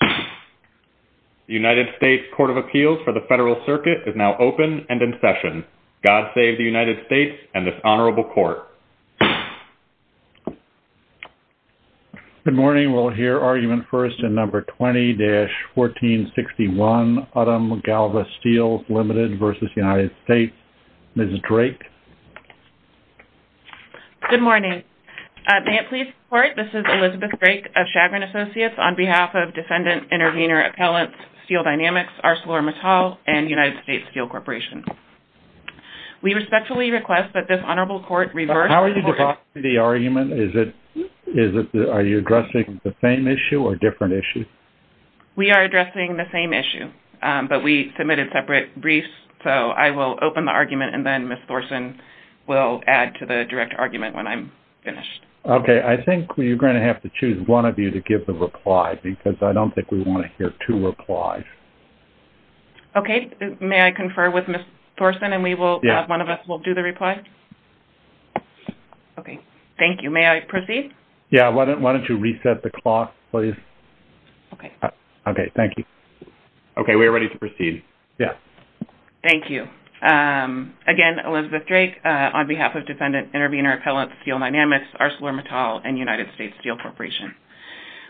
The United States Court of Appeals for the Federal Circuit is now open and in session. God save the United States and this Honorable Court. Good morning, we'll hear argument first in No. 20-1461, Uttam Galva Steels Limited v. United States. Ms. Drake? Good morning. May it please the Court, this is Elizabeth Drake of Chagrin Associates on behalf of Defendant Intervenor Appellants Steel Dynamics, ArcelorMittal, and United States Steel Corporation. We respectfully request that this Honorable Court reverse the court order. But how are you addressing the argument? Is it, are you addressing the same issue or a different issue? We are addressing the same issue, but we submitted separate briefs, so I will open the argument and then Ms. Thorsen will add to the direct argument when I'm finished. Okay. I think we're going to have to choose one of you to give the reply because I don't think we want to hear two replies. Okay. May I confer with Ms. Thorsen and we will, one of us will do the reply? Yes. Okay. Thank you. May I proceed? Yes. Why don't you reset the clock, please? Okay. Okay. Thank you. Okay. We are ready to proceed. Yes. Thank you. Again, Elizabeth Drake on behalf of Defendant Intervenor Appellant Steel Dynamics, ArcelorMittal, and United States Steel Corporation.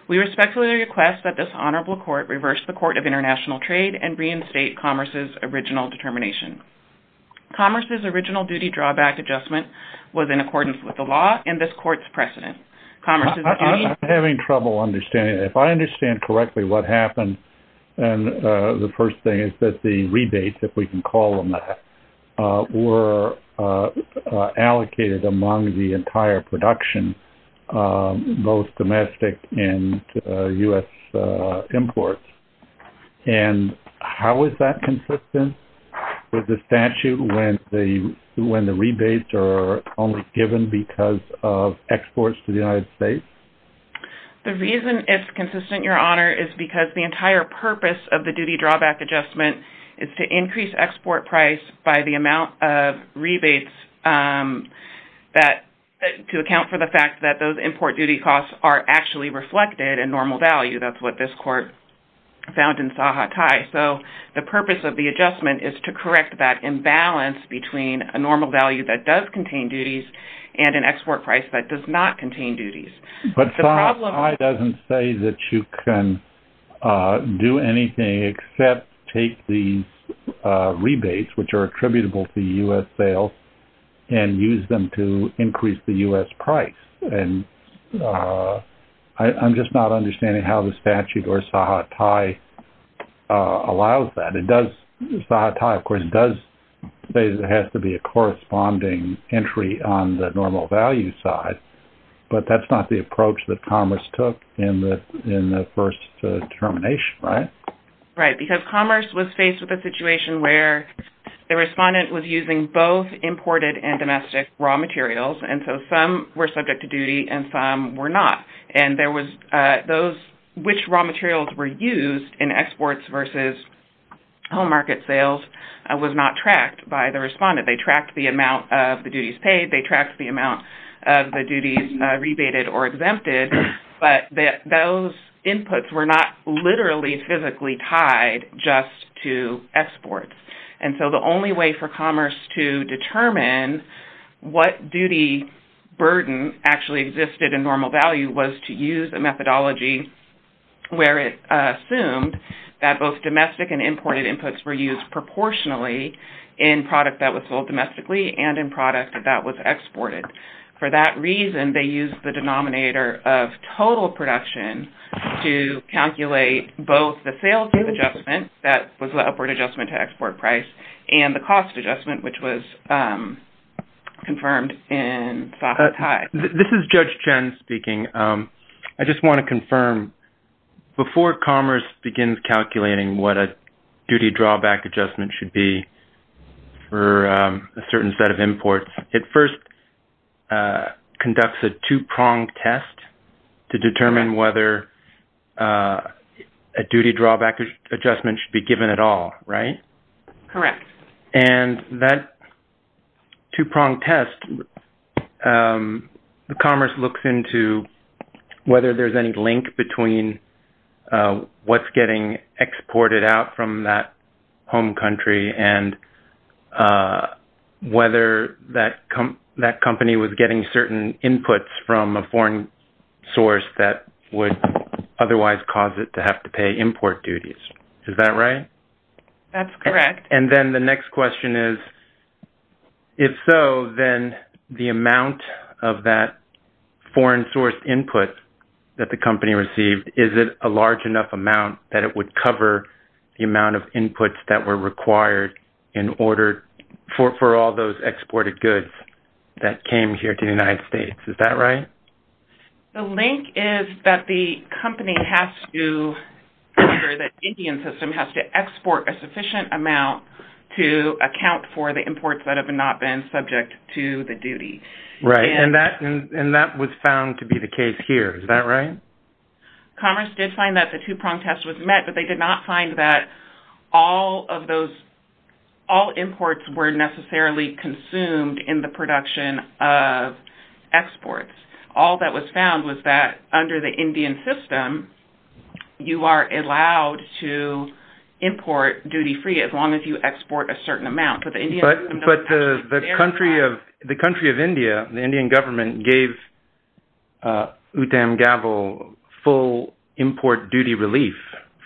We respectfully request that this Honorable Court reverse the court of international trade and reinstate Commerce's original determination. Commerce's original duty drawback adjustment was in accordance with the law and this court's precedent. Commerce's duty... I'm having trouble understanding. If I understand correctly what happened, the first thing is that the rebates, if we can call them that, were allocated among the entire production, both domestic and U.S. imports. And how is that consistent with the statute when the rebates are only given because of exports to the United States? The reason it's consistent, Your Honor, is because the entire purpose of the duty drawback adjustment is to increase export price by the amount of rebates to account for the fact that those import duty costs are actually reflected in normal value. That's what this court found in Sahakai. So the purpose of the adjustment is to correct that imbalance between a normal value that does contain duties and an export price that does not contain duties. But Sahakai doesn't say that you can do anything except take these rebates, which are attributable to U.S. sales, and use them to increase the U.S. price. And I'm just not understanding how the statute or Sahakai allows that. It does... Sahakai, of course, does say that it has to be a corresponding entry on the normal value side, but that's not the approach that Commerce took in the first determination, right? Right. Because Commerce was faced with a situation where the respondent was using both imported and domestic raw materials, and so some were subject to duty and some were not. And there was... Which raw materials were used in exports versus home market sales was not tracked by the respondent. They tracked the amount of the duties paid. They tracked the amount of the duties rebated or exempted, but those inputs were not literally physically tied just to exports. And so the only way for Commerce to determine what duty burden actually existed in normal value was to use a methodology where it assumed that both domestic and imported inputs were used proportionally in product that was sold domestically and in product that was exported. For that reason, they used the denominator of total production to calculate both the sales rate adjustment, that was the upward adjustment to export price, and the cost adjustment, which was confirmed in Sahakai. This is Judge Chen speaking. I just want to confirm, before Commerce begins calculating what a duty drawback adjustment should be for a certain set of imports, it first conducts a two-pronged test to determine whether a duty drawback adjustment should be given at all, right? Correct. And that two-pronged test, Commerce looks into whether there's any link between what's getting exported out from that home country and whether that company was getting certain inputs from a foreign source that would otherwise cause it to have to pay import duties. Is that right? That's correct. And then the next question is, if so, then the amount of that foreign source input that the company received, is it a large enough amount that it would cover the amount of inputs that were required in order for all those exported goods that came here to the United States? Is that right? The link is that the company has to, or the Indian system has to export a sufficient amount to account for the imports that have not been subject to the duty. Right. And that was found to be the case here. Is that right? Commerce did find that the two-pronged test was met, but they did not find that all of those, all imports were necessarily consumed in the production of exports. All that was found was that under the Indian system, you are allowed to import duty-free as long as you export a certain amount. But the country of India, the Indian government gave Uttam Gavel full import duty relief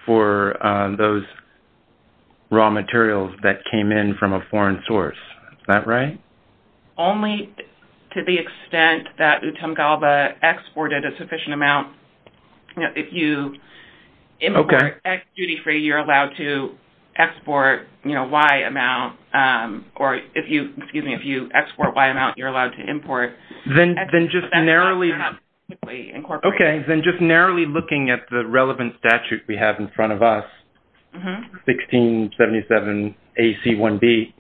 for those raw materials that came in from a foreign source. Is that right? Only to the extent that Uttam Gavel exported a sufficient amount. If you import X duty-free, you're allowed to export Y amount, or if you, excuse me, if you export Y amount, you're allowed to import X duty-free that's not perhaps typically incorporated. Okay. Then just narrowly looking at the relevant statute we have in front of us, 1677 AC1B,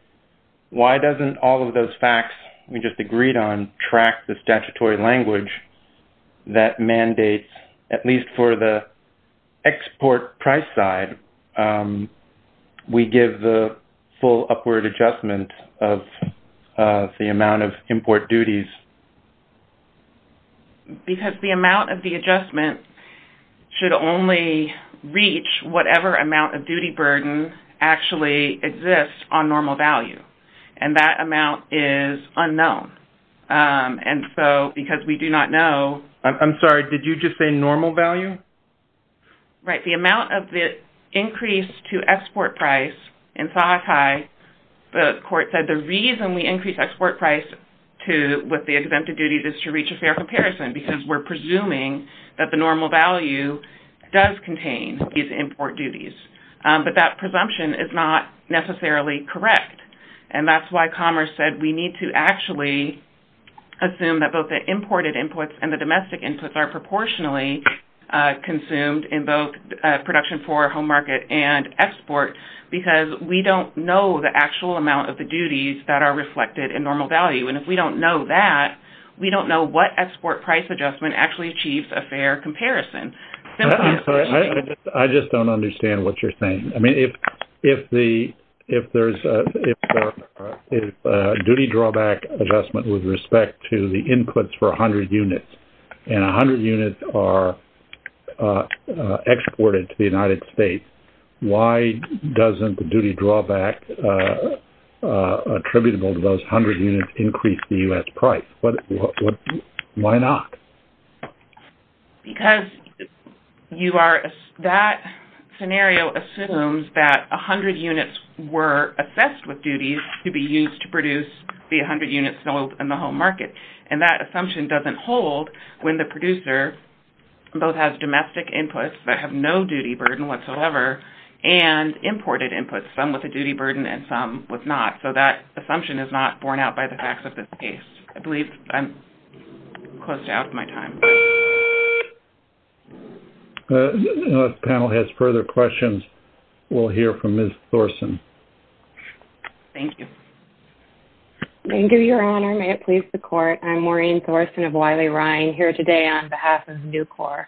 why doesn't all of those facts we just agreed on track the statutory language that mandates, at least for the export price side, we give the full upward adjustment of the amount of import duties? Because the amount of the adjustment should only reach whatever amount of duty burden actually exists on normal value. And that amount is unknown. And so because we do not know... I'm sorry. Did you just say normal value? Right. The amount of the increase to export price in Sahakai, the court said the reason we increase export price to what the exempted duties is to reach a fair comparison because we're presuming that the normal value does contain these import duties. But that presumption is not necessarily correct. And that's why Commerce said we need to actually assume that both the imported inputs and the domestic inputs are proportionally consumed in both production for home market and export because we don't know the actual amount of the duties that are reflected in normal value. And if we don't know that, we don't know what export price adjustment actually achieves a fair comparison. I just don't understand what you're saying. I mean, if duty drawback adjustment with respect to the inputs for 100 units and 100 units are exported to the United States, why doesn't the duty drawback attributable to those 100 units increase the U.S. price? Why not? Because that scenario assumes that 100 units were assessed with duties to be used to produce the 100 units sold in the home market. And that assumption doesn't hold when the producer both has domestic inputs that have no duty burden whatsoever and imported inputs, some with a duty burden and some with not. So that assumption is not borne out by the facts of this case. I believe I'm close to out of my time. If the panel has further questions, we'll hear from Ms. Thorson. Thank you. Thank you, Your Honor. Your Honor, may it please the Court, I'm Maureen Thorson of Wiley-Ryan here today on behalf of NUCOR.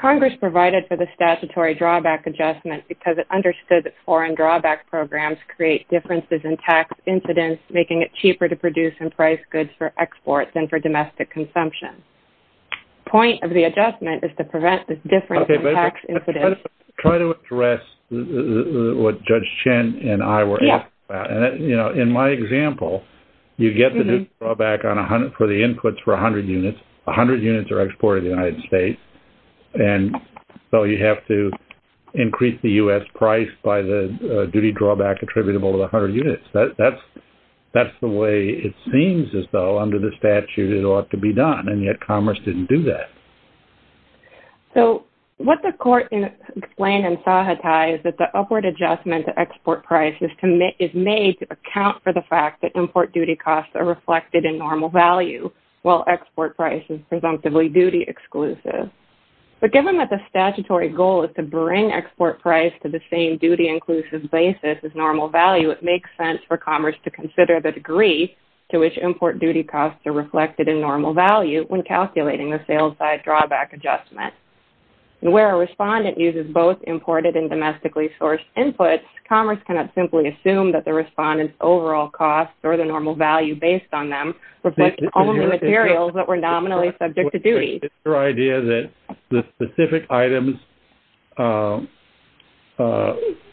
Congress provided for the statutory drawback adjustment because it understood that foreign drawback programs create differences in tax incidence, making it cheaper to produce and price goods for export than for domestic consumption. Point of the adjustment is to prevent the difference in tax incidence. Okay, but try to address what Judge Chen and I were asking about. In my example, you get the duty drawback for the inputs for 100 units. 100 units are exported to the United States. And so you have to increase the U.S. price by the duty drawback attributable to 100 units. That's the way it seems as though under the statute it ought to be done, and yet Congress didn't do that. So what the Court explained in Sahatai is that the upward adjustment to export prices is made to account for the fact that import duty costs are reflected in normal value, while export price is presumptively duty-exclusive. But given that the statutory goal is to bring export price to the same duty-inclusive basis as normal value, it makes sense for Congress to consider the degree to which import duty costs are reflected in normal value when calculating the sales-side drawback adjustment. And where a respondent uses both imported and domestically sourced inputs, Congress cannot simply assume that the respondent's overall costs or the normal value based on them reflect only materials that were nominally subject to duty. Is your idea that the specific items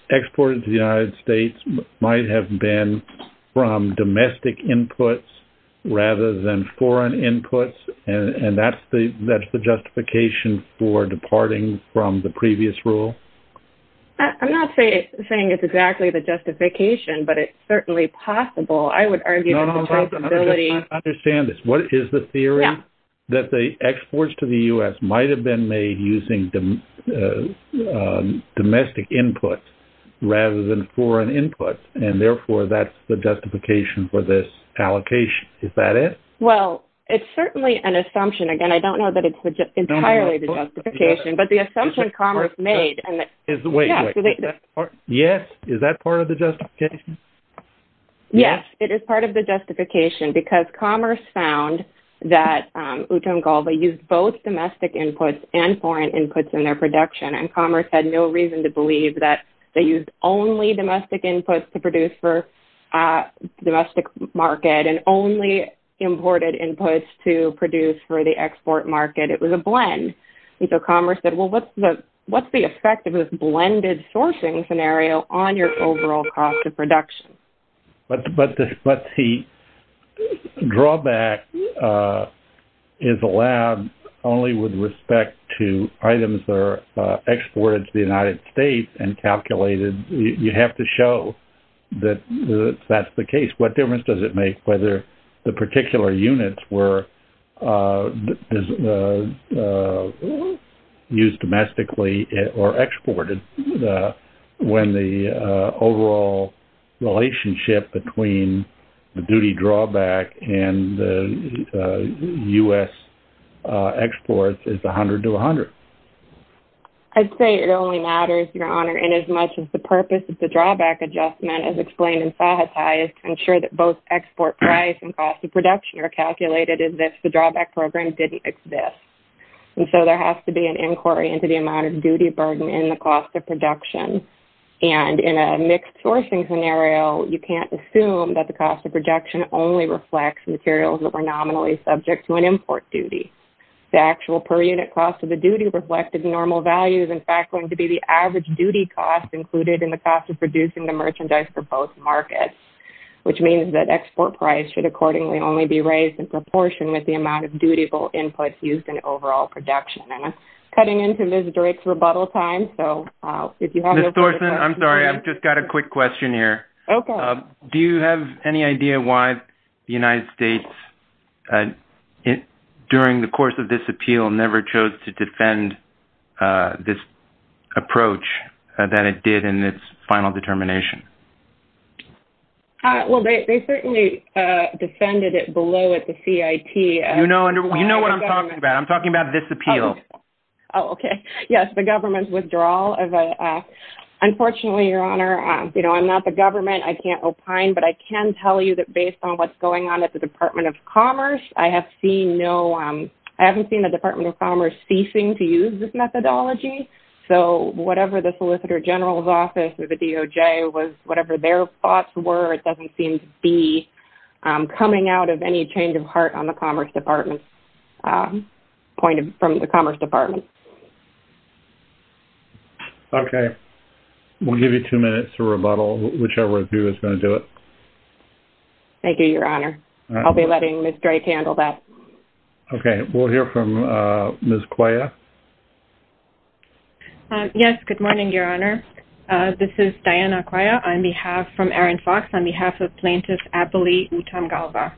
exported to the United States might have been from domestic rather than foreign inputs, and that's the justification for departing from the previous rule? I'm not saying it's exactly the justification, but it's certainly possible. I would argue that the possibility... No, no, I understand this. What is the theory? Yeah. That the exports to the U.S. might have been made using domestic inputs rather than foreign inputs, and therefore that's the justification for this allocation. Is that it? Well, it's certainly an assumption. Again, I don't know that it's entirely the justification, but the assumption Commerce made... Wait, wait. Yes. Is that part of the justification? Yes, it is part of the justification because Commerce found that Utengolva used both domestic inputs and foreign inputs in their production, and Commerce had no reason to believe that they used only domestic inputs to produce for the domestic market and only imported inputs to produce for the export market. It was a blend. So Commerce said, well, what's the effect of this blended sourcing scenario on your overall cost of production? But the drawback is allowed only with respect to items that are exported to the United States and calculated. You have to show that that's the case. What difference does it make whether the particular units were used domestically or exported when the overall relationship between the duty drawback and the U.S. exports is 100 to 100? I'd say it only matters, Your Honor, inasmuch as the purpose of the drawback adjustment as explained in FAHTA is to ensure that both export price and cost of production are calculated as if the drawback program didn't exist. And so there has to be an inquiry into the amount of duty burden in the cost of production. And in a mixed sourcing scenario, you can't assume that the cost of production only reflects materials that were nominally subject to an import duty. The actual per unit cost of the duty reflected normal value is, in fact, going to be the average duty cost included in the cost of producing the merchandise for both markets, which means that export price should accordingly only be raised in proportion with the amount of dutiful input used in overall production. And I'm cutting into Ms. Drake's rebuttal time, so if you have any questions... Mr. Thorson, I'm sorry. I've just got a quick question here. Okay. Do you have any idea why the United States, during the course of this appeal, never chose to defend this approach that it did in its final determination? Well, they certainly defended it below at the CIT. You know what I'm talking about. I'm talking about this appeal. Oh, okay. Yes, the government's withdrawal of a... But I can tell you that based on what's going on at the Department of Commerce, I have seen no... I haven't seen the Department of Commerce ceasing to use this methodology. So, whatever the Solicitor General's office or the DOJ was...whatever their thoughts were, it doesn't seem to be coming out of any change of heart on the Commerce Department's point of...from the Commerce Department. Okay. We'll give you two minutes to rebuttal. Whichever of you is going to do it. Thank you, Your Honor. I'll be letting Ms. Drake handle that. We'll hear from Ms. Cuella. Yes. Good morning, Your Honor. This is Diana Cuella on behalf...from Aaron Fox on behalf of Plaintiff's Appellee Utam Galva.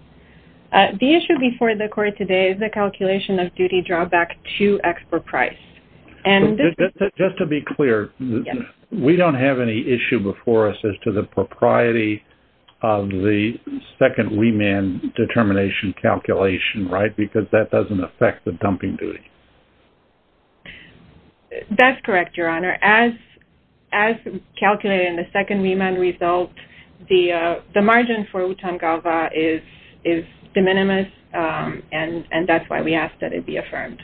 The issue before the Court today is the calculation of duty drawback to expert price. Just to be clear, we don't have any issue before us as to the propriety of the second remand determination calculation, right? Because that doesn't affect the dumping duty. That's correct, Your Honor. As calculated in the second remand result, the margin for Utam Galva is de minimis, and that's why we ask that it be affirmed.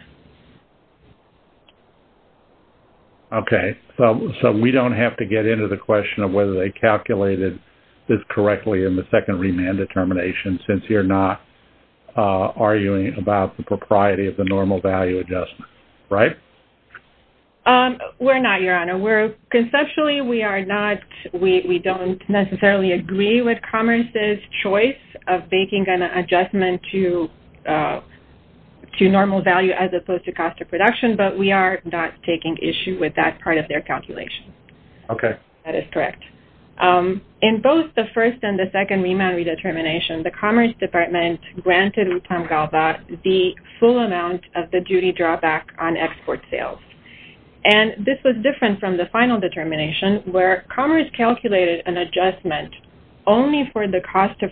Okay. So we don't have to get into the question of whether they calculated this correctly in the second remand determination since you're not arguing about the propriety of the normal value adjustment, right? We're not, Your Honor. We're...conceptually, we are not...we don't necessarily agree with Commerce's choice of issue with that part of their calculation. Okay. That is correct. In both the first and the second remand redetermination, the Commerce Department granted Utam Galva the full amount of the duty drawback on export sales, and this was different from the final determination where Commerce calculated an adjustment only for the cost of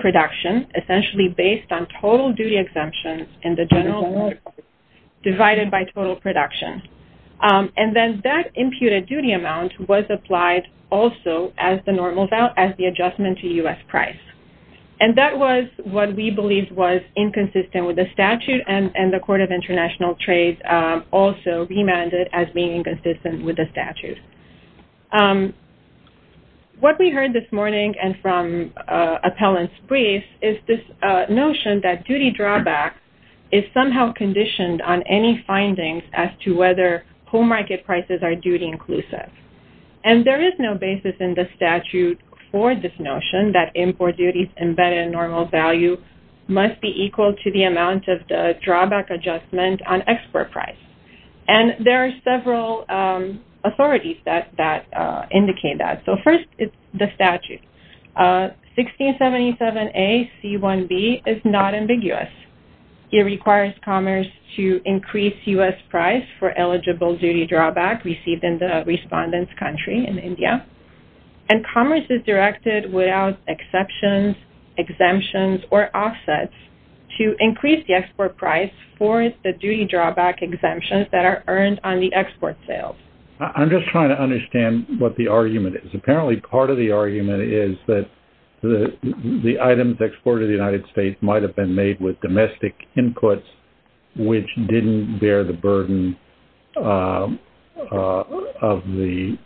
production essentially based on total duty exemptions and the general... ...divided by total production. And then that imputed duty amount was applied also as the normal value, as the adjustment to U.S. price. And that was what we believed was inconsistent with the statute, and the Court of International Trades also remanded as being inconsistent with the statute. What we heard this morning and from appellant's brief is this notion that duty drawback is somehow conditioned on any findings as to whether home market prices are duty inclusive. And there is no basis in the statute for this notion that import duties embedded in normal value must be equal to the amount of the drawback adjustment on export price. And there are several authorities that indicate that. So first is the statute. 1677A.C.1.B. is not ambiguous. It requires Commerce to increase U.S. price for eligible duty drawback received in the respondent's country in India. And Commerce is directed without exceptions, exemptions, or offsets to increase the export price for the duty drawback exemptions that are earned on the export sales. I'm just trying to understand what the argument is. Apparently part of the argument is that the items exported to the United States might have been made with domestic inputs, which didn't bear the burden of the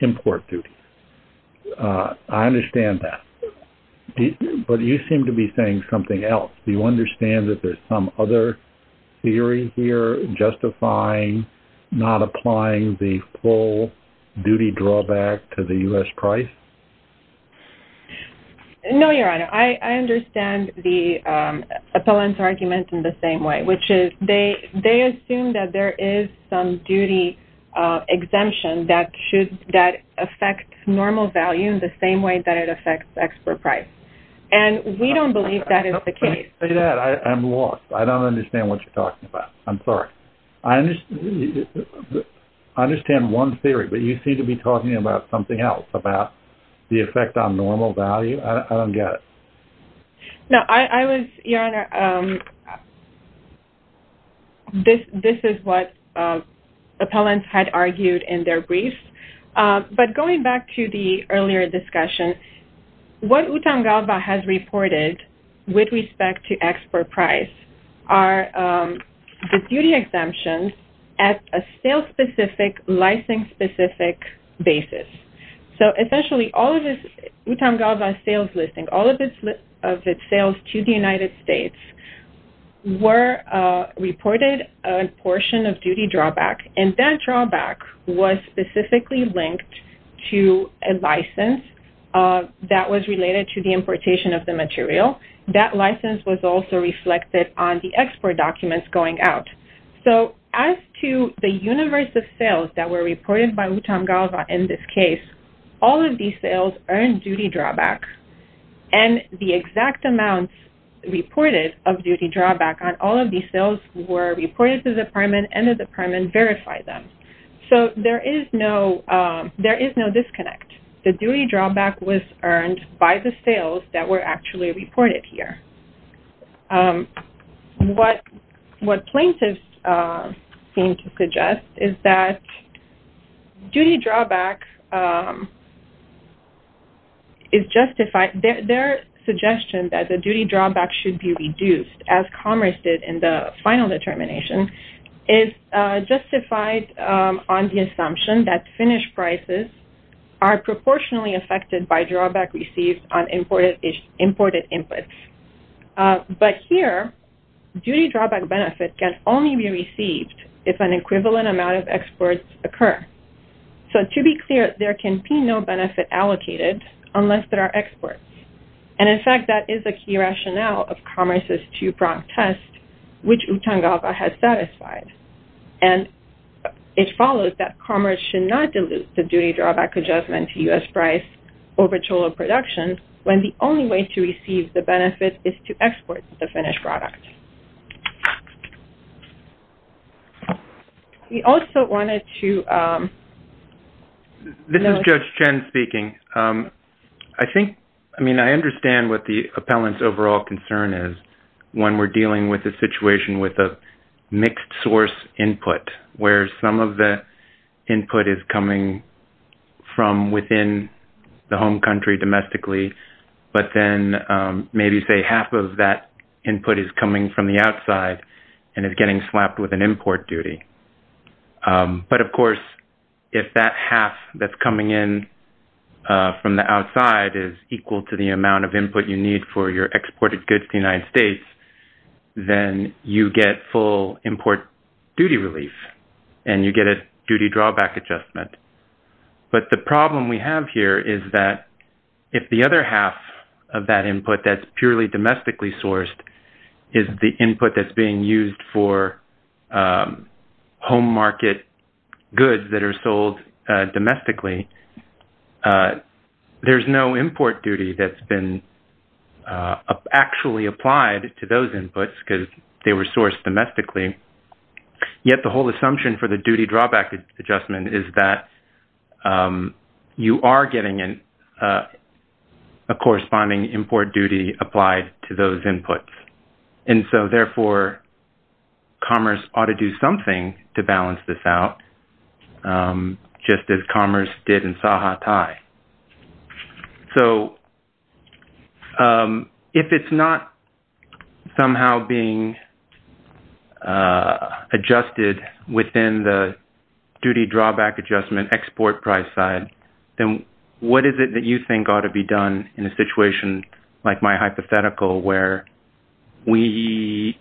import duties. I understand that. But you seem to be saying something else. Do you understand that there's some other theory here justifying not applying the full duty drawback to the U.S. price? No, Your Honor. I understand the appellant's argument in the same way, which is they assume that there is some duty exemption that affects normal value in the same way that it affects export price. And we don't believe that is the case. I'm lost. I don't understand what you're talking about. I'm sorry. I understand one theory, but you seem to be talking about something else, about the effect on normal value. I don't get it. No, I was, Your Honor, this is what appellants had argued in their briefs. But going back to the earlier discussion, what UTAM Galva has reported with respect to export price are the duty exemptions at a sale-specific, licensing-specific basis. So essentially, all of this UTAM Galva sales listing, all of its sales to the United States were reported a portion of duty drawback. And that drawback was specifically linked to a license that was related to the importation of the material. That license was also reflected on the export documents going out. So as to the universe of sales that were reported by UTAM Galva in this case, all of these sales were reported as earned duty drawback. And the exact amounts reported of duty drawback on all of these sales were reported to the department and the department verified them. So there is no disconnect. The duty drawback was earned by the sales that were actually reported here. What plaintiffs seem to suggest is that duty drawback is justified. Their suggestion that the duty drawback should be reduced as commerce did in the final determination is justified on the assumption that finished prices are proportionally affected by drawback received on imported inputs. But here, duty drawback benefit can only be received if an equivalent amount of exports occur. So to be clear, there can be no benefit allocated unless there are exports. And in fact, that is a key rationale of commerce's two-pronged test, which UTAM Galva has satisfied. And it follows that commerce should not dilute the duty drawback adjustment to U.S. price over total production when the only way to receive the benefit is to export the finished product. This is Judge Chen speaking. I mean, I understand what the appellant's overall concern is when we're dealing with a situation with a mixed source input where some of the input is coming from within the home country domestically, but then maybe say half of that input is coming from the outside and is getting slapped with an import duty. But of course, if that half that's coming in from the outside is equal to the amount of input you need for your exported goods to the United States, then you get full import duty relief, and you get a duty drawback adjustment. But the problem we have here is that if the other half of that input that's purely domestically sourced is the input that's being used for home market goods that are sold domestically, there's no import duty that's been actually applied to those inputs because they were sourced domestically. Yet the whole assumption for the duty drawback adjustment is that you are getting a corresponding import duty applied to those inputs. And so, therefore, commerce ought to do something to balance this out, just as commerce did in Sahatai. So, if it's not somehow being adjusted within the duty drawback adjustment export price side, then what is it that you think ought to be done in a situation like my hypothetical where the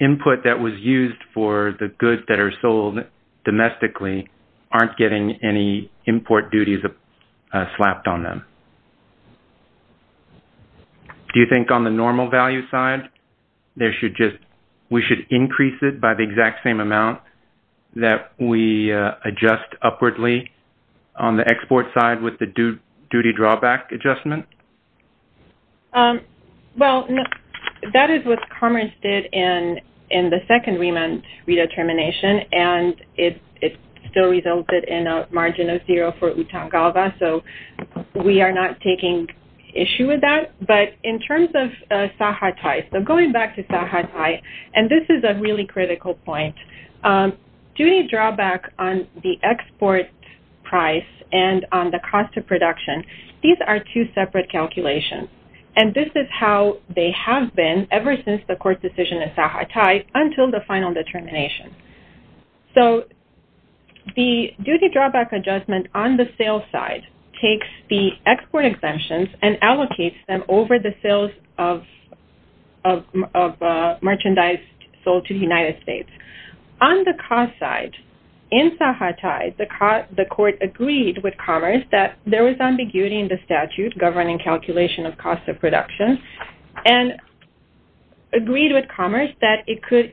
input that was used for the goods that are sold domestically aren't getting any import duties slapped on them? Do you think on the normal value side, we should increase it by the exact same amount that we adjust upwardly on the export side with the duty drawback adjustment? Well, that is what commerce did in the second remand redetermination, and it still resulted in a margin of zero for Utangava. So, we are not taking issue with that. But in terms of Sahatai, so going back to Sahatai, and this is a really critical point, duty drawback on the export price and on the cost of production, these are two separate calculations. And this is how they have been ever since the court decision in Sahatai until the final determination. So, the duty drawback adjustment on the sale side takes the export exemptions and allocates them over the sales of merchandise sold to the United States. On the cost side, in Sahatai, the court agreed with commerce that there was ambiguity in the statute governing calculation of cost of production and agreed with commerce that it could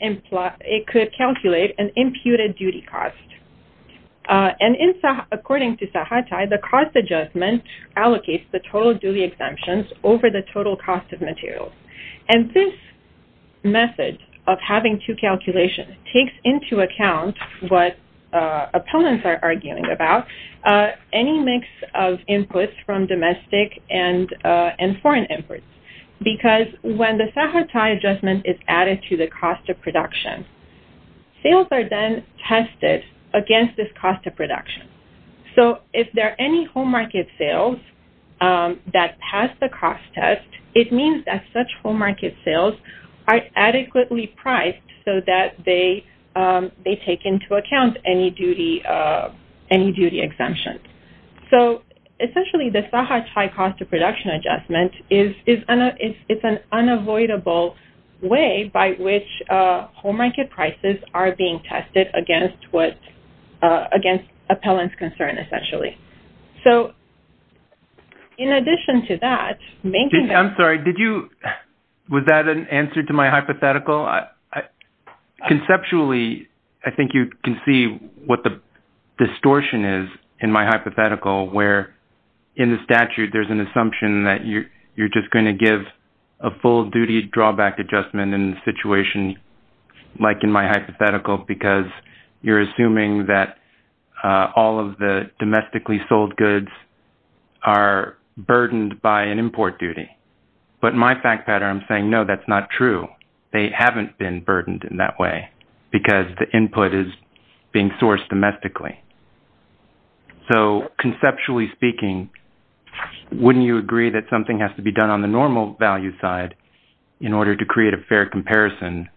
calculate an imputed duty cost. And according to Sahatai, the cost adjustment allocates the total duty exemptions over the total cost of materials. And this method of having two calculations takes into account what appellants are arguing about, any mix of inputs from domestic and foreign inputs. Because when the Sahatai adjustment is added to the cost of production, sales are then tested against this cost of production. So, if there are any home market sales that pass the cost test, it means that such home market sales are adequately priced so that they take into account any duty exemptions. So, essentially, the Sahatai cost of production adjustment is an unavoidable way by which home market prices are being tested against appellant's concern, essentially. So, in addition to that... I'm sorry. Did you... Was that an answer to my hypothetical? Conceptually, I think you can see what the distortion is in my hypothetical where, in the statute, there's an assumption that you're just going to give a full duty drawback adjustment in a situation like in my hypothetical because you're assuming that all of the domestically sold goods are burdened by an import duty. But in my fact pattern, I'm saying, no, that's not true. They haven't been burdened in that way because the input is being sourced domestically. So, conceptually speaking, wouldn't you agree that something has to be done on the normal value side in order to create a fair comparison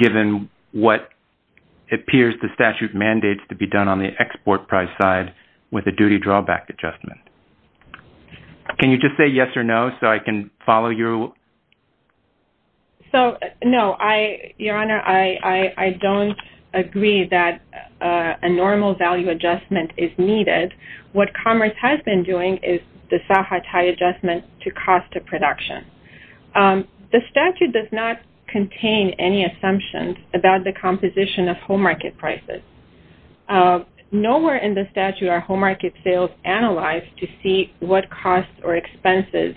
given what appears the statute mandates to be done on the export price side with a duty drawback adjustment? Can you just say yes or no so I can follow your... So, no. Your Honor, I don't agree that a normal value adjustment is needed. What Commerce has been doing is the SAHA tie adjustment to cost of production. The statute does not contain any assumptions about the composition of home market prices. Nowhere in the statute are home market sales analyzed to see what costs or expenses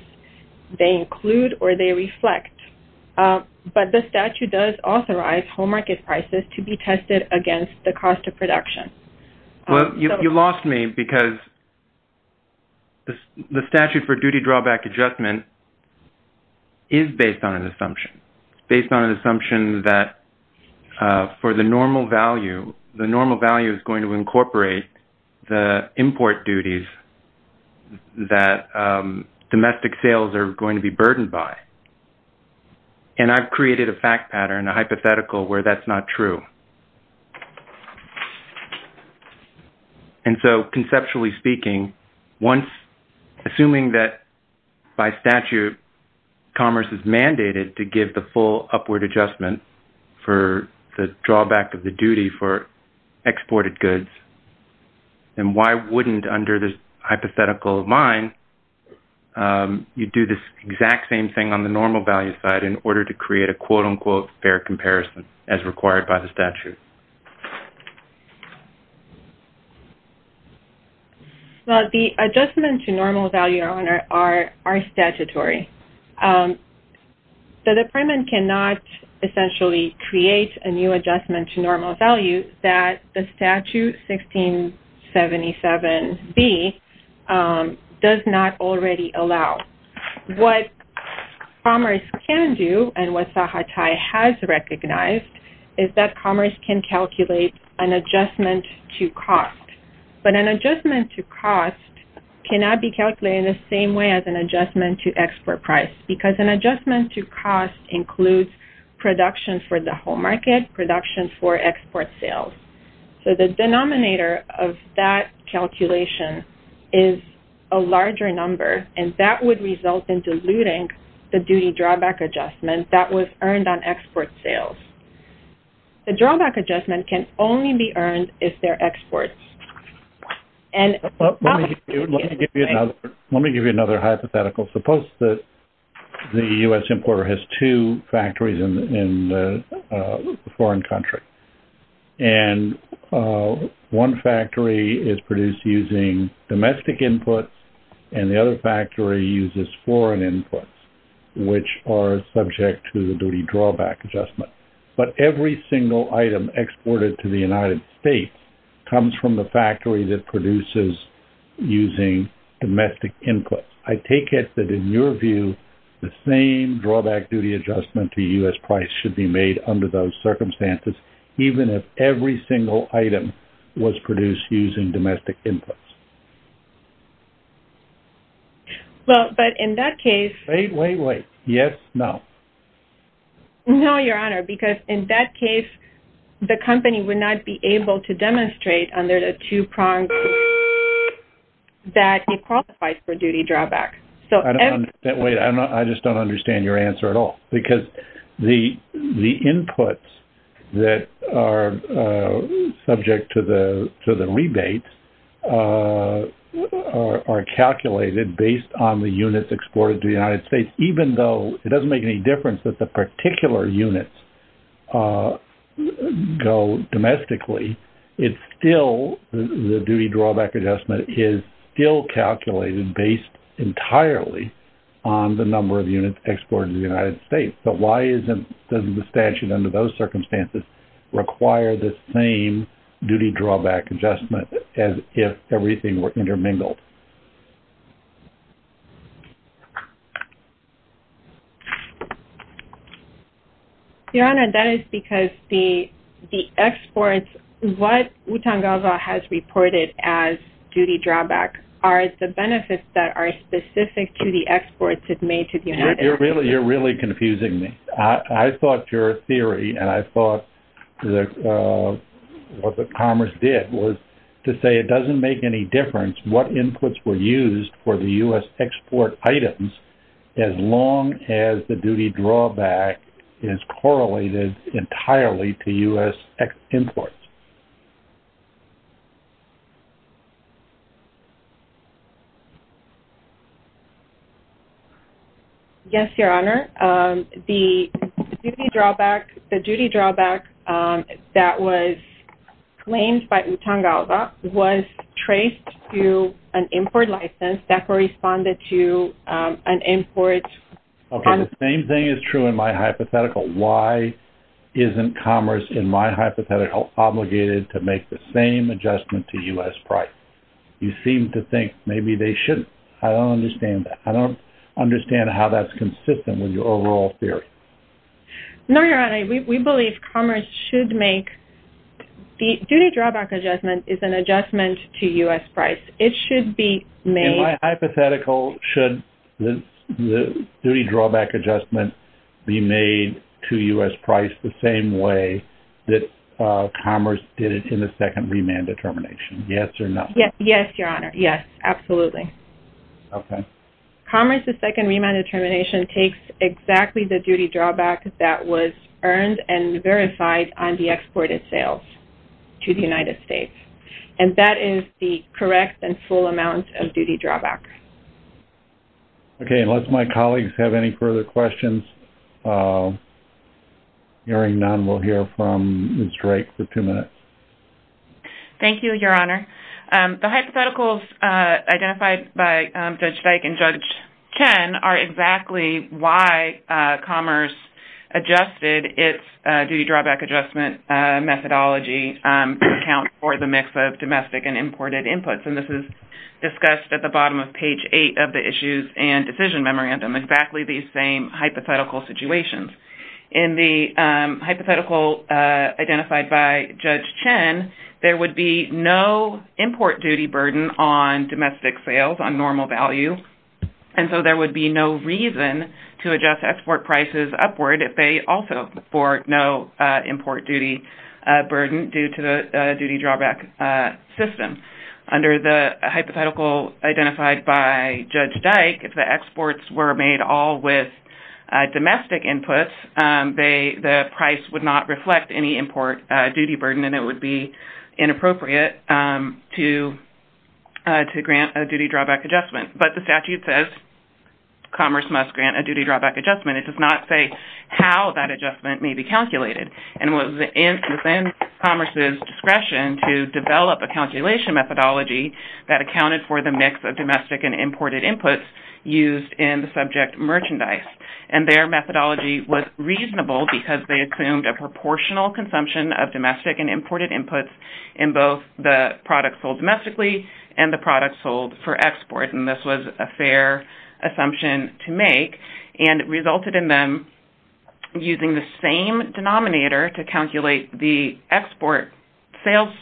they include or they reflect. But the statute does authorize home market prices to be tested against the cost of production. Well, you lost me because the statute for duty drawback adjustment is based on an assumption, based on an assumption that for the normal value, the normal value is going to incorporate the import duties that domestic sales are going to be burdened by. And I've created a fact pattern, a hypothetical where that's not true. And so conceptually speaking, assuming that by statute Commerce is mandated to give the full upward adjustment for the drawback of the duty for exported goods, then why wouldn't under this hypothetical of mine you do this exact same thing on the normal value side in order to create a quote-unquote fair comparison as required by the statute? Well, the adjustment to normal value are statutory. The department cannot essentially create a new adjustment to normal value that the statute 1677B does not already allow. What Commerce can do and what SAHA tie has recognized is that Commerce can calculate an adjustment to cost. But an adjustment to cost cannot be calculated in the same way as an adjustment to export price because an adjustment to cost includes production for the home market, production for export sales. So the denominator of that calculation is a larger number, and that would result in diluting the duty drawback adjustment that was earned on export sales. The drawback adjustment can only be earned if they're exports. Let me give you another hypothetical. Suppose that the U.S. importer has two factories in a foreign country, and one factory is produced using domestic inputs and the other factory uses foreign inputs, which are subject to the same duty drawback adjustment. But every single item exported to the United States comes from the factory that produces using domestic inputs. I take it that in your view, the same drawback duty adjustment to U.S. price should be made under those circumstances, even if every single item was produced using domestic inputs. Well, but in that case... Wait, wait, wait. Yes, no. No, Your Honor, because in that case, the company would not be able to demonstrate under the two prongs that it qualifies for duty drawback. Wait, I just don't understand your answer at all. Because the inputs that are subject to the rebates are calculated based on the units exported to the United States, even though it doesn't make any difference that the particular units go domestically, it's still... The duty drawback adjustment is still calculated based entirely on the number of units exported to the United States. But why doesn't the statute under those circumstances require the same duty drawback adjustment as if everything were intermingled? Your Honor, that is because the exports... What UTANGAVA has reported as duty drawback are the benefits that are specific to the exports it made to the United States. You're really confusing me. I thought your theory, and I thought what the Commerce did was to say it doesn't make any difference what inputs were used for the U.S. export items as long as the duty drawback is correlated entirely to U.S. exports. Yes, Your Honor. The duty drawback that was claimed by UTANGAVA was traced to an import license that corresponded to an import... Okay, the same thing is true in my hypothetical. Why isn't Commerce, in my hypothetical, obligated to make the same adjustment to U.S. price? You seem to think maybe they shouldn't. I don't understand that. I don't understand how that's consistent with your overall theory. No, Your Honor. We believe Commerce should make... The duty drawback adjustment is an adjustment to U.S. price. It should be made... In my hypothetical, should the duty drawback adjustment be made to U.S. price the same way that Commerce did it in the second remand determination? Yes or no? Yes, Your Honor. Yes, absolutely. Okay. Commerce's second remand determination takes exactly the duty drawback that was earned and verified on the exported sales to the United States. And that is the correct and full amount of duty drawback. Okay. Unless my colleagues have any further questions, hearing none, we'll hear from Ms. Drake for two minutes. Thank you, Your Honor. The hypotheticals identified by Judge Dyke and Judge Chen are exactly why Commerce adjusted its duty drawback adjustment methodology to account for the mix of domestic and imported inputs. And this is discussed at the bottom of page eight of the issues and decision memorandum, exactly these same hypothetical situations. In the hypothetical identified by Judge Chen, there would be no import duty burden on domestic sales on normal value. And so there would be no reason to adjust export prices upward if they also afford no import duty burden due to the duty drawback system. Under the hypothetical identified by Judge Dyke, if the exports were made all with domestic inputs, the price would not reflect any import duty burden and it would be inappropriate to grant a duty drawback adjustment. But the statute says Commerce must grant a duty drawback adjustment. It does not say how that adjustment may be calculated. And it was within Commerce's discretion to develop a calculation methodology that accounted for the mix of domestic and imported inputs used in the subject merchandise. And their methodology was reasonable because they assumed a proportional consumption of domestic and imported inputs in both the products sold domestically and the products sold for export. And this was a fair assumption to make and resulted in them using the same denominator to calculate the export sales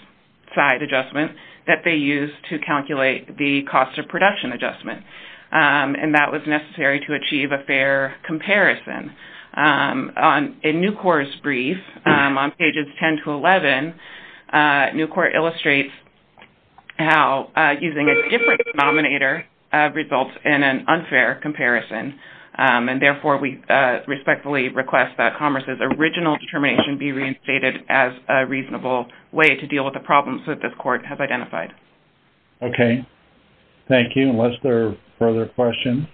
side adjustment that they used to calculate the cost of production adjustment. And that was necessary to achieve a fair comparison. In Nucor's brief on pages 10 to 11, Nucor illustrates how using a different denominator results in an unfair comparison. And therefore, we respectfully request that Commerce's original determination be reinstated as a reasonable way to deal with the problems that this court has identified. Okay. Thank you. Any other questions, unless there are further questions?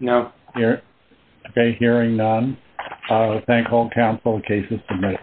No. Okay. Hearing none, I will thank all counsel. The case is submitted.